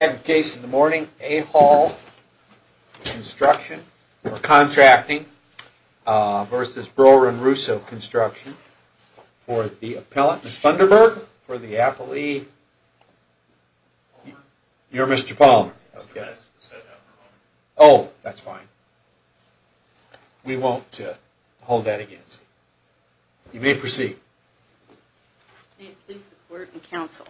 I have a case in the morning, Ahal Construction or Contracting v. Broeren Russo Construction for the appellant, Ms. Funderburg, for the appellee. You're Mr. Palmer. Oh, that's fine. We won't hold that against you. You may proceed. May it please the court and counsel,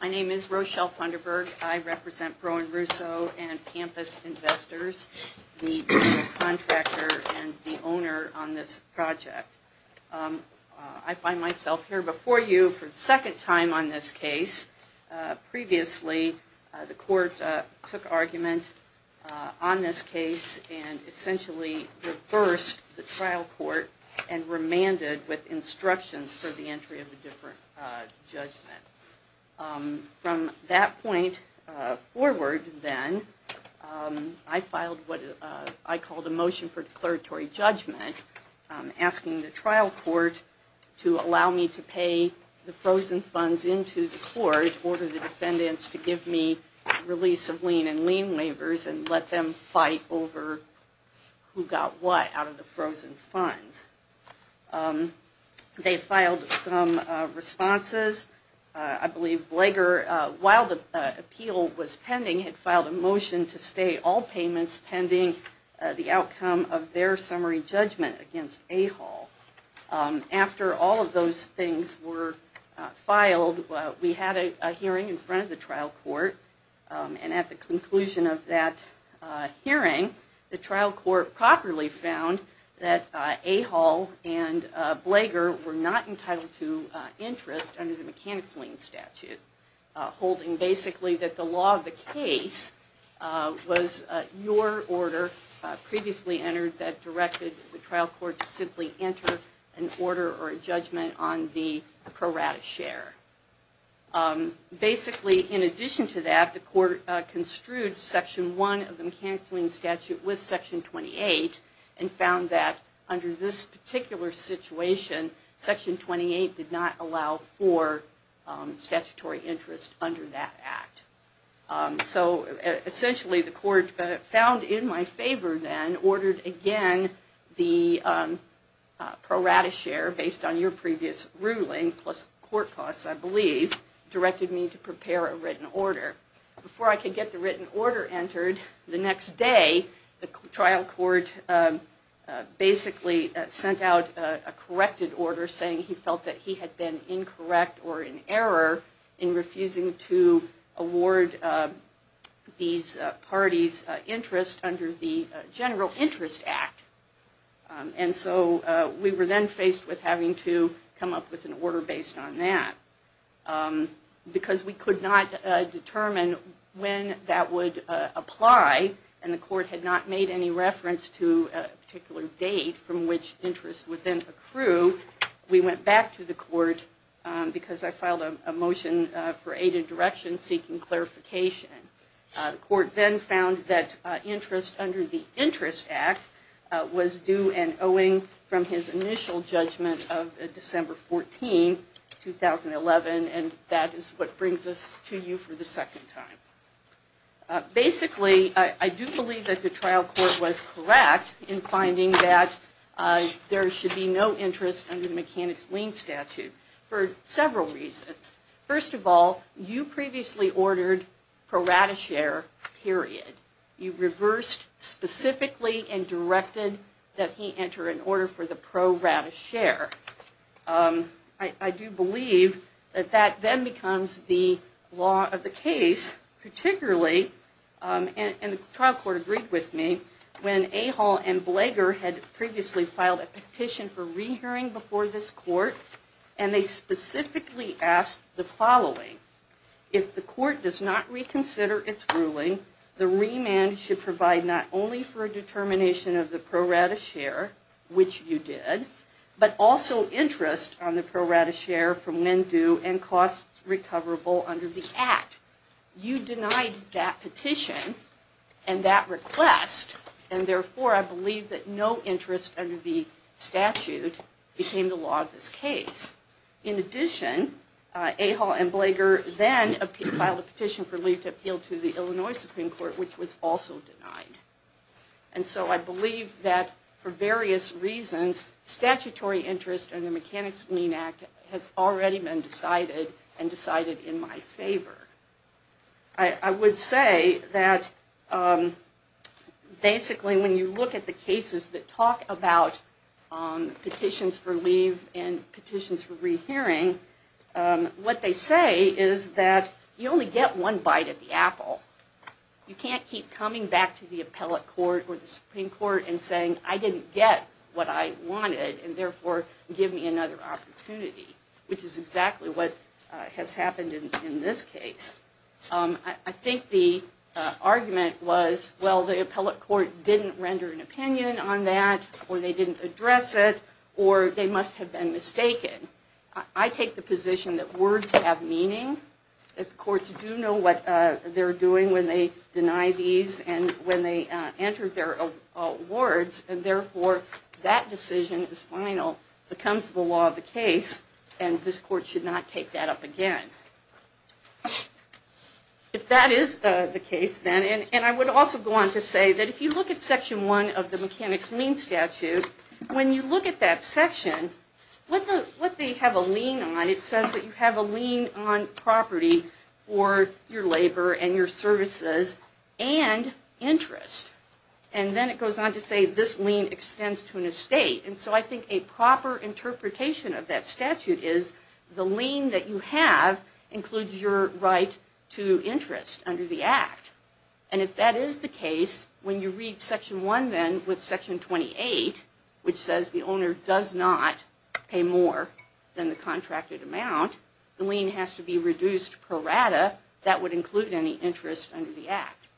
my name is Rochelle Funderburg. I represent Broeren Russo and Campus Investors, the contractor and the owner on this project. I find myself here before you for the second time on this case. Previously, the court took argument on this case and essentially reversed the trial court and remanded with instructions for the entry of a different judgment. From that point forward, then, I filed what I called a motion for declaratory judgment asking the trial court to allow me to pay the frozen funds into the court in order for the defendants to give me release of lien and lien waivers and let them fight over who got what out of the frozen funds. They filed some responses. I believe Blager, while the appeal was pending, had filed a motion to stay all payments pending the outcome of their summary judgment against Ahal. After all of those things were filed, we had a hearing in front of the trial court and at the conclusion of that hearing, the trial court properly found that Ahal and Blager were not entitled to interest under the mechanics lien statute. Basically, that the law of the case was your order previously entered that directed the trial court to simply enter an order or a judgment on the pro rata share. Basically, in addition to that, the court construed Section 1 of the mechanics lien statute with Section 28 and found that under this particular situation, Section 28 did not allow for statutory interest under that act. Essentially, the court found in my favor then ordered again the pro rata share based on your previous ruling plus court costs, I believe, directed me to prepare a written order. Before I could get the written order entered, the next day, the trial court basically sent out a corrected order saying he felt that he had been incorrect or in error in refusing to award these parties interest under the general interest act. And so we were then faced with having to come up with an order based on that. Because we could not determine when that would apply and the court had not made any reference to a particular date from which interest would then accrue, we went back to the court because I filed a motion for aided direction seeking clarification. The court then found that interest under the interest act was due and owing from his initial judgment of December 14, 2011 and that is what brings us to you for the second time. Basically, I do believe that the trial court was correct in finding that there should be no interest under the mechanics lien statute for several reasons. First of all, you previously ordered pro rata share, period. You reversed specifically and directed that he enter an order for the pro rata share. I do believe that that then becomes the law of the case, particularly, and the trial court agreed with me, when Ahol and Blager had previously filed a petition for rehearing before this court and they specifically asked the following. If the court does not reconsider its ruling, the remand should provide not only for a determination of the pro rata share, which you did, but also interest on the pro rata share for when due and costs recoverable under the act. You denied that petition and that request and therefore I believe that no interest under the statute became the law of this case. In addition, Ahol and Blager then filed a petition for leave to appeal to the Illinois Supreme Court, which was also denied. And so I believe that for various reasons, statutory interest under the Mechanics Lien Act has already been decided and decided in my favor. I would say that basically when you look at the cases that talk about petitions for leave and petitions for rehearing, what they say is that you only get one bite at the apple. You can't keep coming back to the appellate court or the Supreme Court and saying I didn't get what I wanted and therefore give me another opportunity, which is exactly what has happened in this case. I think the argument was, well, the appellate court didn't render an opinion on that or they didn't address it or they must have been mistaken. I take the position that words have meaning. Courts do know what they're doing when they deny these and when they enter their words and therefore that decision is final. It becomes the law of the case and this court should not take that up again. If that is the case then, and I would also go on to say that if you look at Section 1 of the Mechanics Lien Statute, when you look at that section, what they have a lien on, it says that you have a lien on property or your labor and your services and interest. Then it goes on to say this lien extends to an estate. I think a proper interpretation of that statute is the lien that you have includes your right to interest under the Act. If that is the case, when you read Section 1 then with Section 28, which says the owner does not pay more than the contracted amount, the lien has to be reduced per rata. That would include any interest under the Act.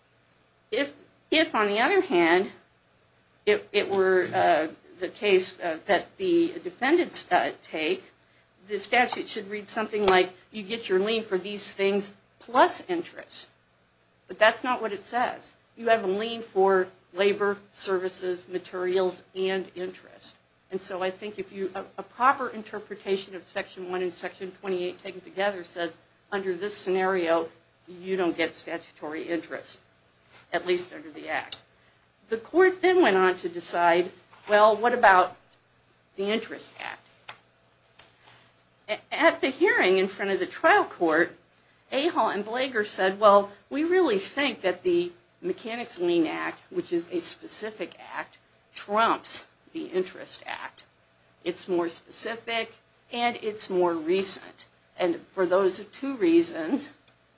If, on the other hand, it were the case that the defendants take, the statute should read something like you get your lien for these things plus interest. But that's not what it says. You have a lien for labor, services, materials, and interest. I think a proper interpretation of Section 1 and Section 28 taken together says under this scenario you don't get statutory interest, at least under the Act. The court then went on to decide, well, what about the Interest Act? At the hearing in front of the trial court, Ahol and Blager said, well, we really think that the Mechanics Lien Act, which is a specific act, trumps the Interest Act. It's more specific and it's more recent. And for those two reasons,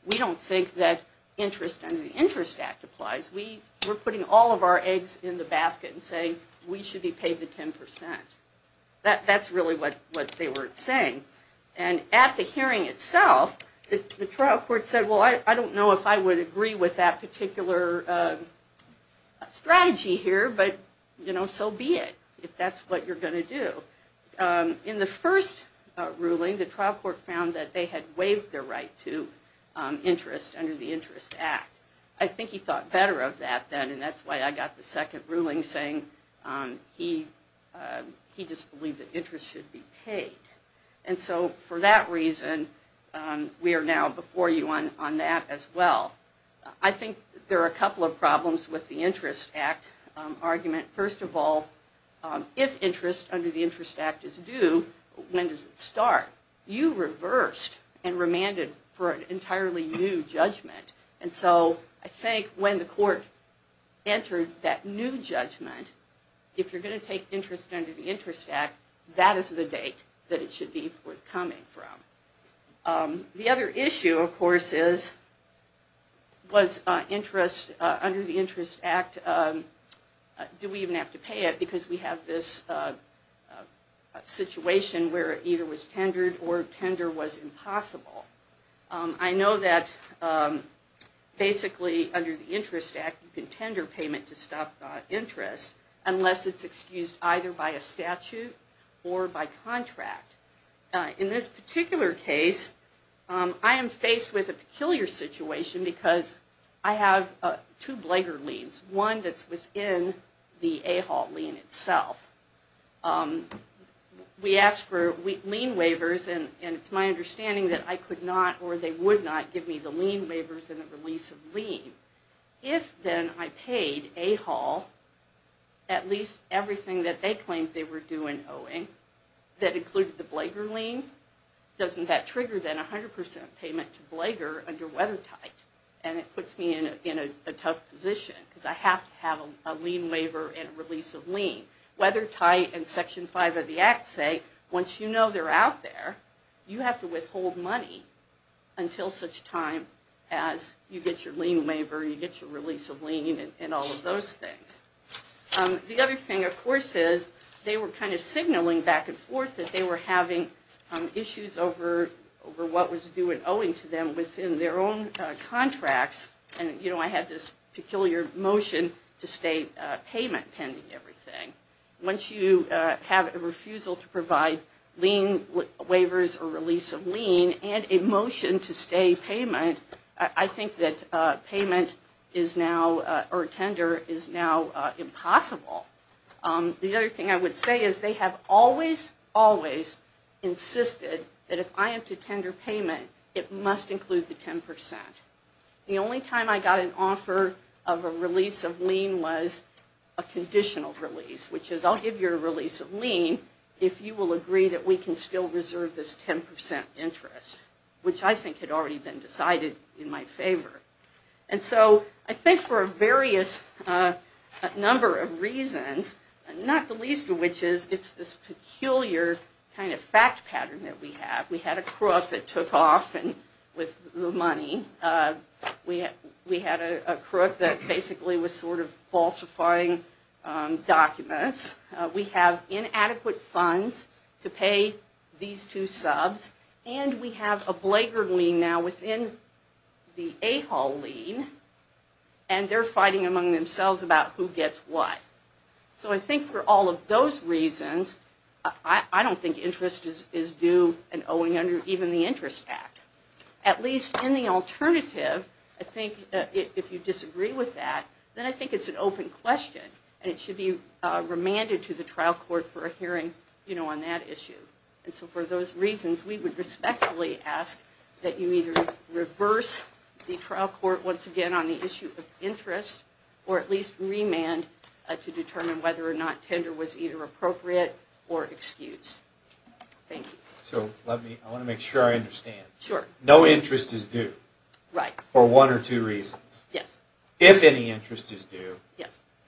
we don't think that interest under the Interest Act applies. We're putting all of our eggs in the basket and saying we should be paid the 10%. That's really what they were saying. And at the hearing itself, the trial court said, well, I don't know if I would agree with that particular strategy here, but, you know, so be it if that's what you're going to do. In the first ruling, the trial court found that they had waived their right to interest under the Interest Act. I think he thought better of that then and that's why I got the second ruling saying he just believed that interest should be paid. And so for that reason, we are now before you on that as well. I think there are a couple of problems with the Interest Act argument. First of all, if interest under the Interest Act is due, when does it start? You reversed and remanded for an entirely new judgment. And so I think when the court entered that new judgment, if you're going to take interest under the Interest Act, that is the date that it should be forthcoming from. The other issue, of course, is was interest under the Interest Act, do we even have to pay it? Because we have this situation where either it was tendered or tender was impossible. I know that basically under the Interest Act, you can tender payment to stop interest unless it's excused either by a statute or by contract. In this particular case, I am faced with a peculiar situation because I have two Blager liens, one that's within the AHAWL lien itself. We ask for lien waivers and it's my understanding that I could not or they would not give me the lien waivers and the release of lien. If then I paid AHAWL at least everything that they claimed they were due in owing, that included the Blager lien, doesn't that trigger then a 100% payment to Blager under Weathertight? And it puts me in a tough position because I have to have a lien waiver and a release of lien. Weathertight and Section 5 of the Act say once you know they're out there, you have to withhold money until such time as you get your lien waiver, you get your release of lien and all of those things. The other thing, of course, is they were kind of signaling back and forth that they were having issues over what was due in owing to them within their own contracts. And, you know, I had this peculiar motion to stay payment pending everything. Once you have a refusal to provide lien waivers or release of lien and a motion to stay payment, I think that payment is now or tender is now impossible. The other thing I would say is they have always, always insisted that if I am to tender payment, it must include the 10%. The only time I got an offer of a release of lien was a conditional release, which is I'll give you a release of lien if you will agree that we can still reserve this 10% interest, which I think had already been decided in my favor. And so I think for a various number of reasons, not the least of which is it's this peculiar kind of fact pattern that we have. We had a crook that took off with the money. We had a crook that basically was sort of falsifying documents. We have inadequate funds to pay these two subs. And we have a blaggard lien now within the AHAW lien, and they're fighting among themselves about who gets what. So I think for all of those reasons, I don't think interest is due and owing under even the Interest Act. At least in the alternative, I think if you disagree with that, then I think it's an open question, and it should be remanded to the trial court for a hearing on that issue. And so for those reasons, we would respectfully ask that you either reverse the trial court once again on the issue of interest, or at least remand to determine whether or not tender was either appropriate or excused. Thank you. So I want to make sure I understand. Sure. No interest is due. Right. For one or two reasons. Yes. If any interest is due,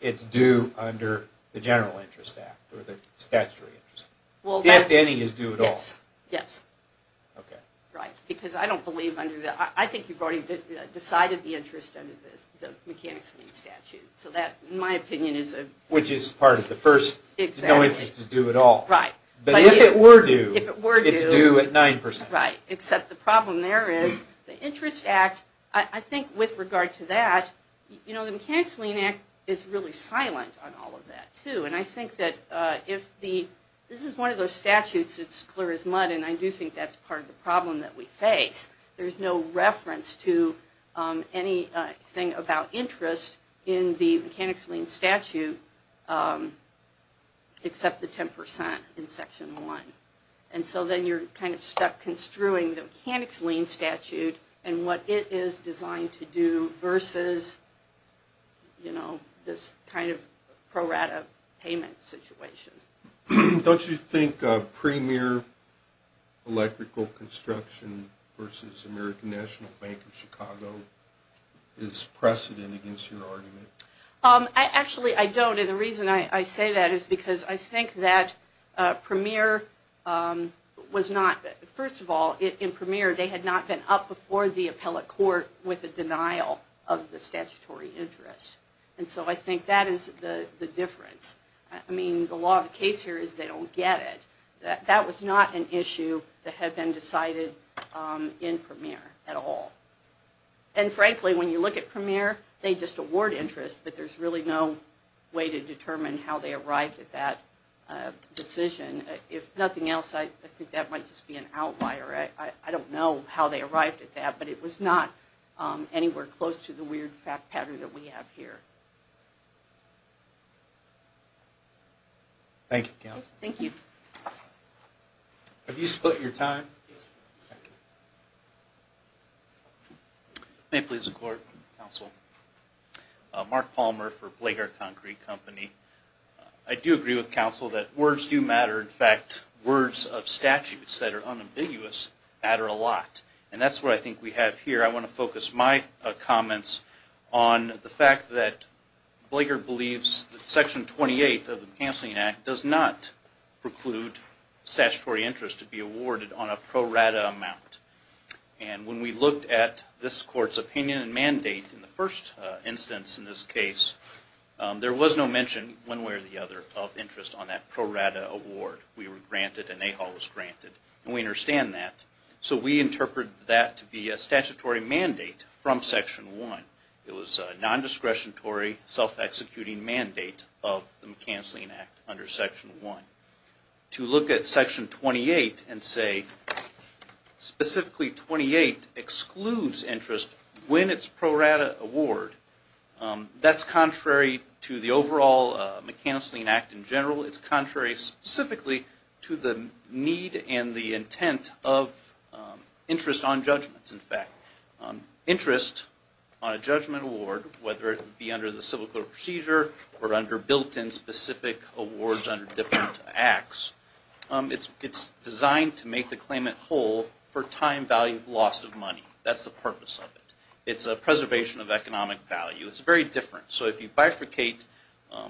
it's due under the General Interest Act or the Statutory Interest Act. If any is due at all. Yes. Yes. Okay. Right. Because I don't believe under the, I think you've already decided the interest under the Mechanics Lien Statute. So that, in my opinion, is a. Which is part of the first. Exactly. No interest is due at all. Right. But if it were due. If it were due. It's due at 9%. Right. Except the problem there is the Interest Act, I think with regard to that, you know, the Mechanics Lien Act is really silent on all of that too. And I think that if the, this is one of those statutes that's clear as mud. And I do think that's part of the problem that we face. There's no reference to anything about interest in the Mechanics Lien Statute except the 10% in Section 1. And so then you're kind of stuck construing the Mechanics Lien Statute and what it is designed to do versus, you know, this kind of pro rata payment situation. Don't you think Premier Electrical Construction versus American National Bank of Chicago is precedent against your argument? Actually, I don't. And the reason I say that is because I think that Premier was not, first of all, in Premier they had not been up before the appellate court with a denial of the statutory interest. And so I think that is the difference. I mean, the law of the case here is they don't get it. That was not an issue that had been decided in Premier at all. And frankly, when you look at Premier, they just award interest, but there's really no way to determine how they arrived at that decision. If nothing else, I think that might just be an outlier. I don't know how they arrived at that, but it was not anywhere close to the weird fact pattern that we have here. Thank you, Counselor. Thank you. Have you split your time? Yes. May it please the Court, Counsel. Mark Palmer for Blager Concrete Company. I do agree with Counsel that words do matter. In fact, words of statutes that are unambiguous matter a lot. And that's what I think we have here. I want to focus my comments on the fact that Blager believes that Section 28 of the Canceling Act does not preclude statutory interest to be awarded on a pro rata amount. And when we looked at this Court's opinion and mandate in the first instance in this case, there was no mention one way or the other of interest on that pro rata award. We were granted, and AHAL was granted, and we understand that. So we interpret that to be a statutory mandate from Section 1. It was a non-discretionary, self-executing mandate of the Canceling Act under Section 1. To look at Section 28 and say specifically 28 excludes interest when it's pro rata award, that's contrary to the overall Canceling Act in general. It's contrary specifically to the need and the intent of interest on judgments, in fact. Interest on a judgment award, whether it be under the Civil Code of Procedure or under built-in specific awards under different acts, it's designed to make the claimant whole for time-valued loss of money. That's the purpose of it. It's a preservation of economic value. It's very different. So if you bifurcate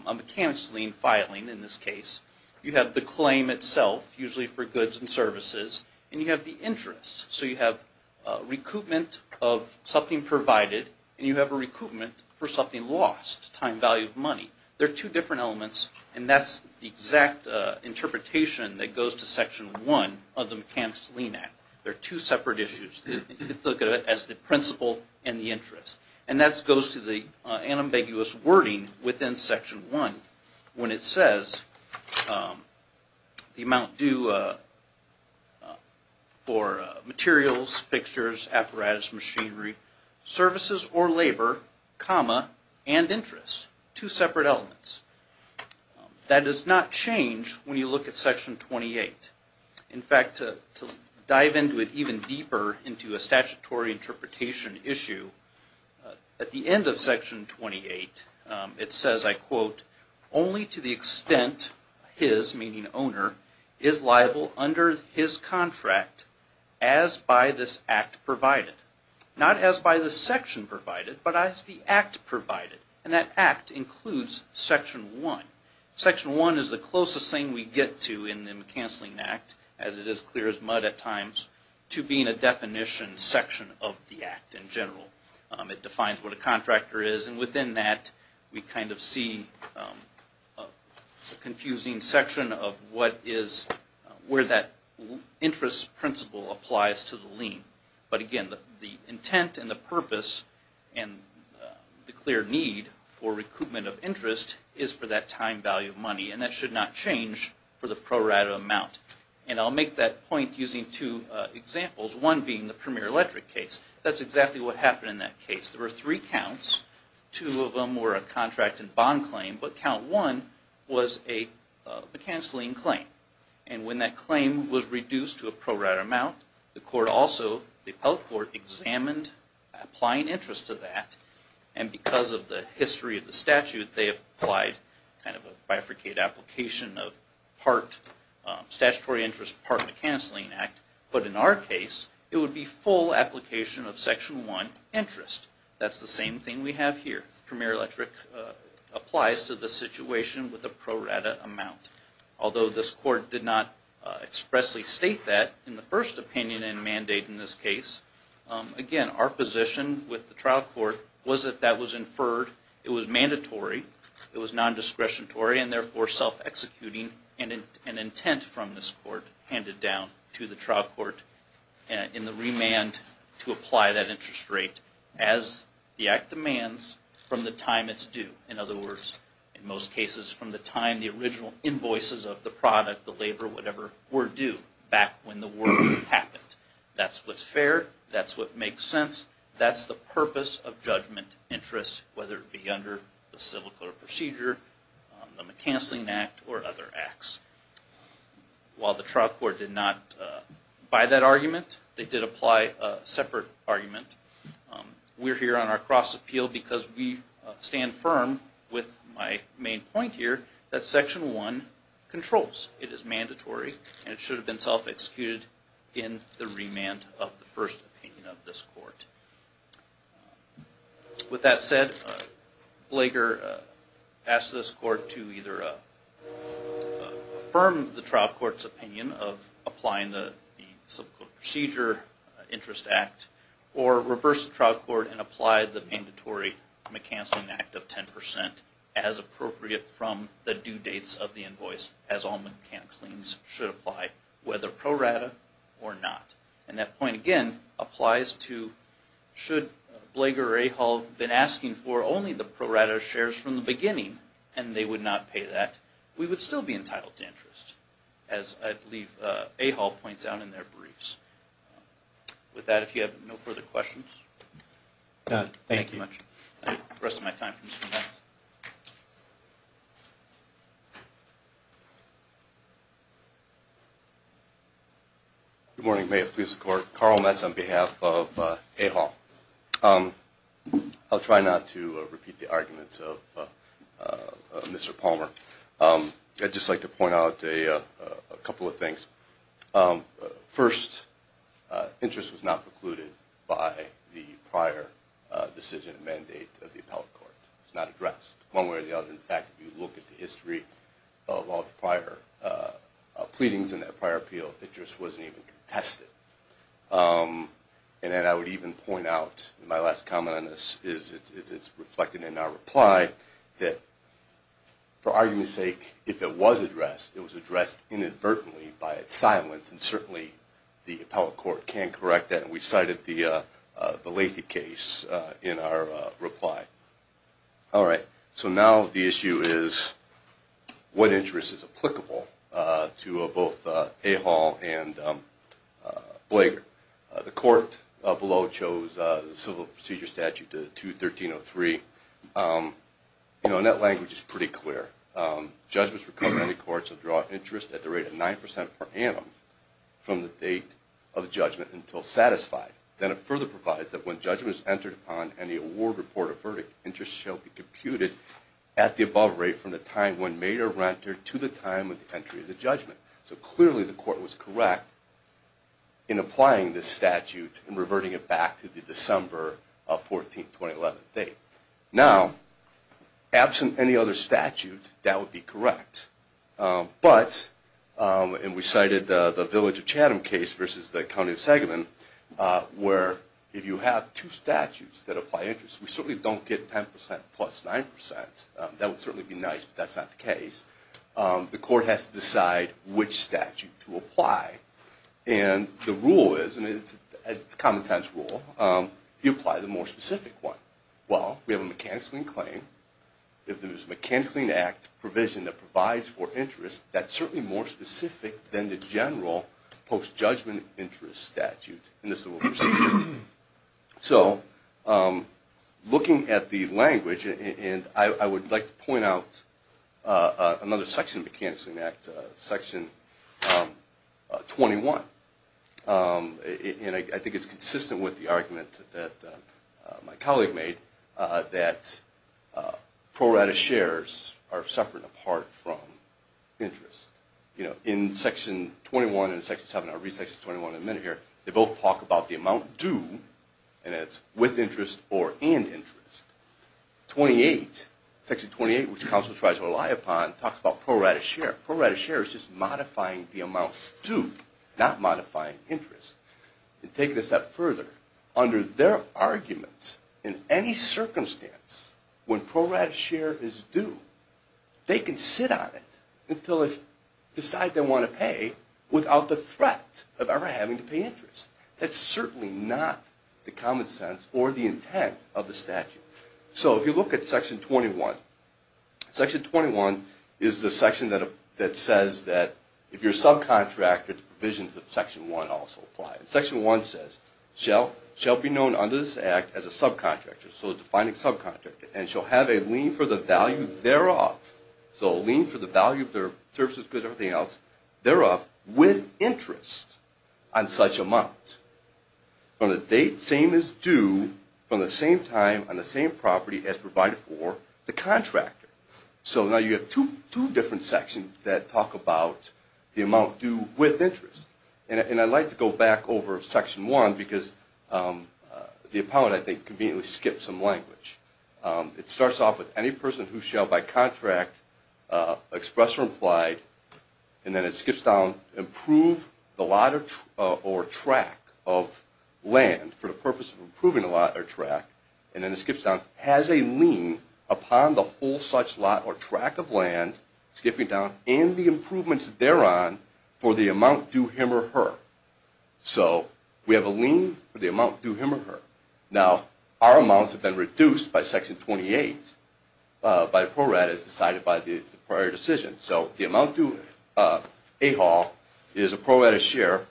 a mechanics lien filing in this case, you have the claim itself, usually for goods and services, and you have the interest. So you have recoupment of something provided, and you have a recoupment for something lost, time-valued money. They're two different elements, and that's the exact interpretation that goes to Section 1 of the Mechanics Lien Act. They're two separate issues. You can look at it as the principle and the interest. And that goes to the unambiguous wording within Section 1 when it says the amount due for materials, fixtures, apparatus, machinery, services or labor, comma, and interest. Two separate elements. That does not change when you look at Section 28. In fact, to dive into it even deeper into a statutory interpretation issue, at the end of Section 28, it says, I quote, only to the extent his, meaning owner, is liable under his contract as by this act provided. Not as by the section provided, but as the act provided. And that act includes Section 1. Section 1 is the closest thing we get to in the Mechanics Lien Act, as it is clear as mud at times, to being a definition section of the act in general. It defines what a contractor is, and within that, we kind of see a confusing section of where that interest principle applies to the lien. But again, the intent and the purpose and the clear need for recoupment of interest is for that time value of money, and that should not change for the pro rata amount. And I'll make that point using two examples, one being the Premier Electric case. That's exactly what happened in that case. There were three counts. Two of them were a contract and bond claim, but count one was a cancelling claim. And when that claim was reduced to a pro rata amount, the court also, the appellate court, examined applying interest to that, and because of the history of the statute, they applied kind of a bifurcated application of part statutory interest, part of the cancelling act. But in our case, it would be full application of Section 1 interest. That's the same thing we have here. Premier Electric applies to the situation with a pro rata amount. Although this court did not expressly state that in the first opinion and mandate in this case, again, our position with the trial court was that that was inferred, it was mandatory, it was non-discretionary, and therefore self-executing an intent from this court handed down to the trial court in the remand to apply that interest rate as the act demands from the time it's due. In other words, in most cases from the time the original invoices of the product, the labor, whatever, were due, back when the work happened. That's what's fair, that's what makes sense, that's the purpose of judgment interest, whether it be under the civil court procedure, the cancelling act, or other acts. While the trial court did not buy that argument, they did apply a separate argument. We're here on our cross-appeal because we stand firm with my main point here that Section 1 controls. It is mandatory and it should have been self-executed in the remand of the first opinion of this court. With that said, Blager asked this court to either affirm the trial court's opinion of applying the civil court procedure interest act or reverse the trial court and apply the mandatory McCancelling Act of 10% as appropriate from the due dates of the invoice, as all McCancellings should apply, whether pro rata or not. And that point again applies to should Blager or Ahall have been asking for only the pro rata shares from the beginning and they would not pay that, we would still be entitled to interest, as I believe Ahall points out in their briefs. With that, if you have no further questions. Thank you. The rest of my time comes from that. Good morning, may it please the court. Carl Metz on behalf of Ahall. I'll try not to repeat the arguments of Mr. Palmer. I'd just like to point out a couple of things. First, interest was not precluded by the prior decision and mandate of the appellate court. It's not addressed, one way or the other. In fact, if you look at the history of all the prior pleadings and that prior appeal, interest wasn't even contested. And then I would even point out, my last comment on this is, it's reflected in our reply, that for argument's sake, if it was addressed, it was addressed inadvertently by its silence and certainly the appellate court can correct that and we cited the Lathey case in our reply. All right, so now the issue is what interest is applicable to both Ahall and Blager. The court below chose the Civil Procedure Statute 213.03, and that language is pretty clear. Judgments for company courts will draw interest at the rate of 9% per annum from the date of judgment until satisfied. Then it further provides that when judgment is entered upon and the award report or verdict, interest shall be computed at the above rate from the time when made or rented to the time of the entry of the judgment. So clearly the court was correct in applying this statute and reverting it back to the December of 14, 2011 date. Now, absent any other statute, that would be correct. But, and we cited the Village of Chatham case versus the County of Sagamon, where if you have two statutes that apply interest, we certainly don't get 10% plus 9%. That would certainly be nice, but that's not the case. The court has to decide which statute to apply. And the rule is, and it's a common-sense rule, you apply the more specific one. Well, we have a mechanically in claim. If there's a mechanically in act provision that provides for interest, that's certainly more specific than the general post-judgment interest statute in the Civil Procedure. So, looking at the language, and I would like to point out another section of the Mechanics in Act, Section 21. And I think it's consistent with the argument that my colleague made that pro rata shares are separate and apart from interest. You know, in Section 21 and Section 7, I'll read Section 21 in a minute here, they both talk about the amount due, and it's with interest or and interest. Section 28, which counsel tries to rely upon, talks about pro rata share. Pro rata share is just modifying the amount due, not modifying interest. And taking it a step further, under their arguments, in any circumstance, when pro rata share is due, they can sit on it until they decide they want to pay without the threat of ever having to pay interest. That's certainly not the common sense or the intent of the statute. So, if you look at Section 21, Section 21 is the section that says that if you're a subcontractor, the provisions of Section 1 also apply. Section 1 says, shall be known under this act as a subcontractor. So, a defining subcontractor. And shall have a lien for the value thereof. So, a lien for the value of their services, goods, everything else, thereof, with interest on such amount. From the date, same as due, from the same time, on the same property as provided for the contractor. So, now you have two different sections that talk about the amount due with interest. And I'd like to go back over Section 1, because the opponent, I think, conveniently skipped some language. It starts off with, any person who shall, by contract, express or implied, and then it skips down, improve the lot or track of land for the purpose of improving the lot or track, and then it skips down, has a lien upon the whole such lot or track of land, skipping down, and the improvements thereon for the amount due him or her. So, we have a lien for the amount due him or her. Now, our amounts have been reduced by Section 28, by PRORAD, as decided by the prior decision. So, the amount due, AHAW, is a PRORAD of share.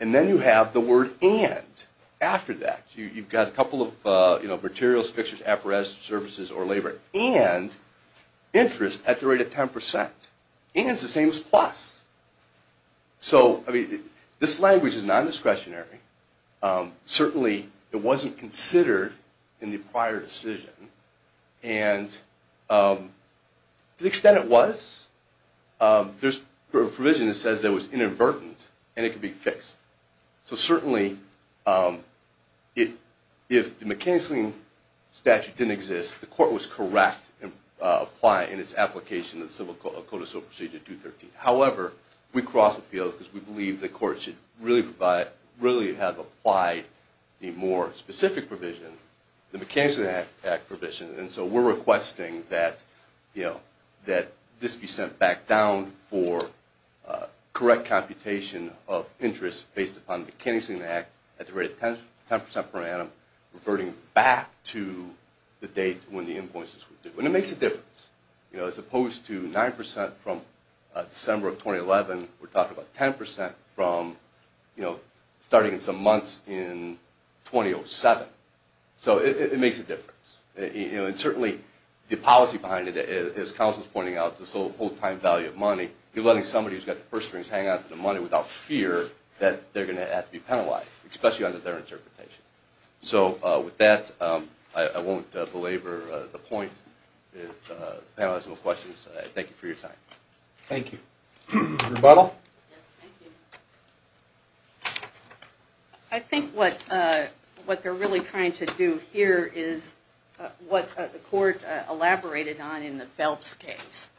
And then you have the word, and, after that. You've got a couple of, you know, materials, fixtures, apparatus, services, or labor. And interest at the rate of 10%. And it's the same as plus. So, I mean, this language is non-discretionary. Certainly, it wasn't considered in the prior decision. And to the extent it was, there's a provision that says it was inadvertent, and it can be fixed. So, certainly, if the mechanical lien statute didn't exist, the court was correct in applying its application of the Civil Code of Civil Procedure 213. However, we crossed the field because we believe the court should really have applied a more specific provision, the Mechanical Lien Act provision. And so, we're requesting that, you know, that this be sent back down for correct computation of interest based upon the Mechanical Lien Act at the rate of 10% per annum, reverting back to the date when the invoice was due. And it makes a difference. You know, as opposed to 9% from December of 2011, we're talking about 10% from, you know, starting in some months in 2007. So, it makes a difference. You know, and certainly, the policy behind it, as counsel's pointing out, this whole-time value of money, you're letting somebody who's got the purse strings hang on to the money without fear that they're going to have to be penalized, especially under their interpretation. So, with that, I won't belabor the point, the panel has no questions. Thank you for your time. Thank you. Rebuttal? Yes, thank you. I think what they're really trying to do here is what the court elaborated on in the Phelps case.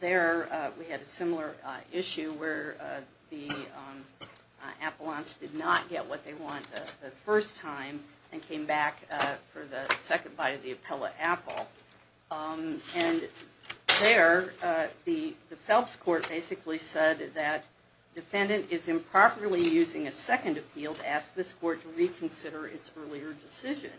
There, we had a similar issue where the appellants did not get what they want the first time and came back for the second bite of the appellate apple. And there, the Phelps court basically said that defendant is improperly using a second appeal to ask this court to reconsider its earlier decision.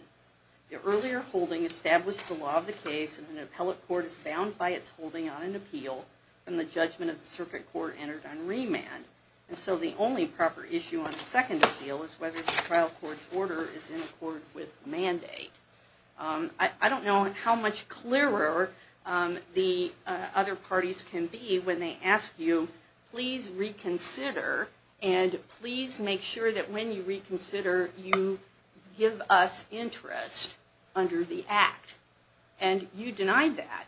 The earlier holding established the law of the case, and an appellate court is bound by its holding on an appeal from the judgment of the circuit court entered on remand. And so, the only proper issue on a second appeal is whether the trial court's order is in accord with mandate. I don't know how much clearer the other parties can be when they ask you, please reconsider and please make sure that when you reconsider you give us interest under the act. And you denied that.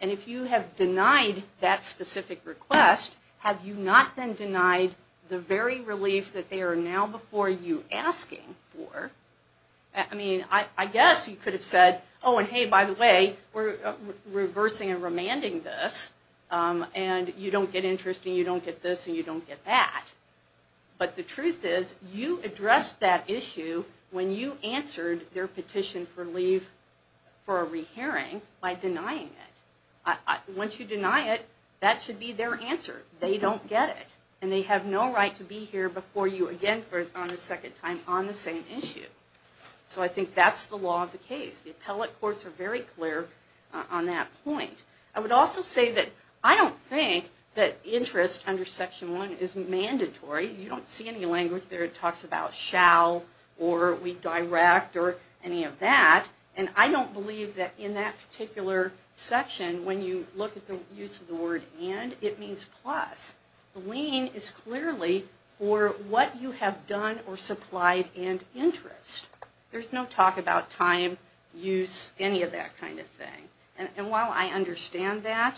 And if you have denied that specific request, have you not then denied the very relief that they are now before you asking for? I mean, I guess you could have said, oh, and hey, by the way, we're reversing and remanding this, and you don't get interest and you don't get this and you don't get that. But the truth is, you addressed that issue when you answered their petition for leave for a rehearing by denying it. Once you deny it, that should be their answer. They don't get it. And they have no right to be here before you again on a second time on the same issue. So I think that's the law of the case. The appellate courts are very clear on that point. I would also say that I don't think that interest under Section 1 is mandatory. You don't see any language there that talks about shall or we direct or any of that. And I don't believe that in that particular section, when you look at the use of the word and, it means plus. The lien is clearly for what you have done or supplied in interest. There's no talk about time, use, any of that kind of thing. And while I understand that,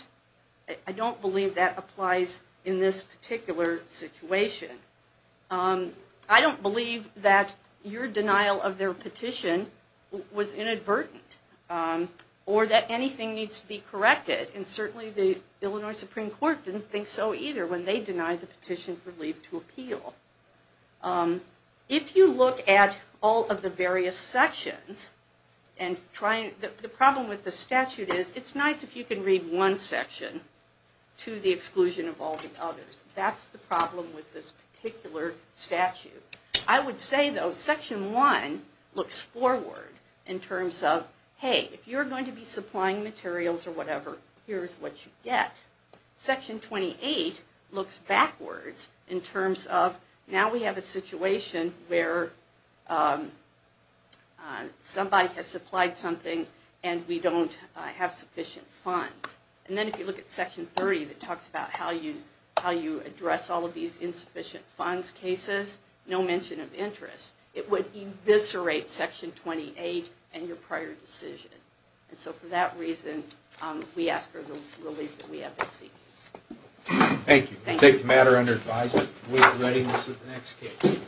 I don't believe that applies in this particular situation. I don't believe that your denial of their petition was inadvertent or that anything needs to be corrected. And certainly the Illinois Supreme Court didn't think so either when they denied the petition for leave to appeal. If you look at all of the various sections, the problem with the statute is it's nice if you can read one section to the exclusion of all the others. That's the problem with this particular statute. I would say, though, Section 1 looks forward in terms of, hey, if you're going to be supplying materials or whatever, here's what you get. Section 28 looks backwards in terms of, now we have a situation where somebody has supplied something and we don't have sufficient funds. And then if you look at Section 30, it talks about how you address all of these insufficient funds cases, no mention of interest. It would eviscerate Section 28 and your prior decision. And so for that reason, we ask for the relief that we have been seeking. Thank you. We take the matter under advisement. We are ready for the next case.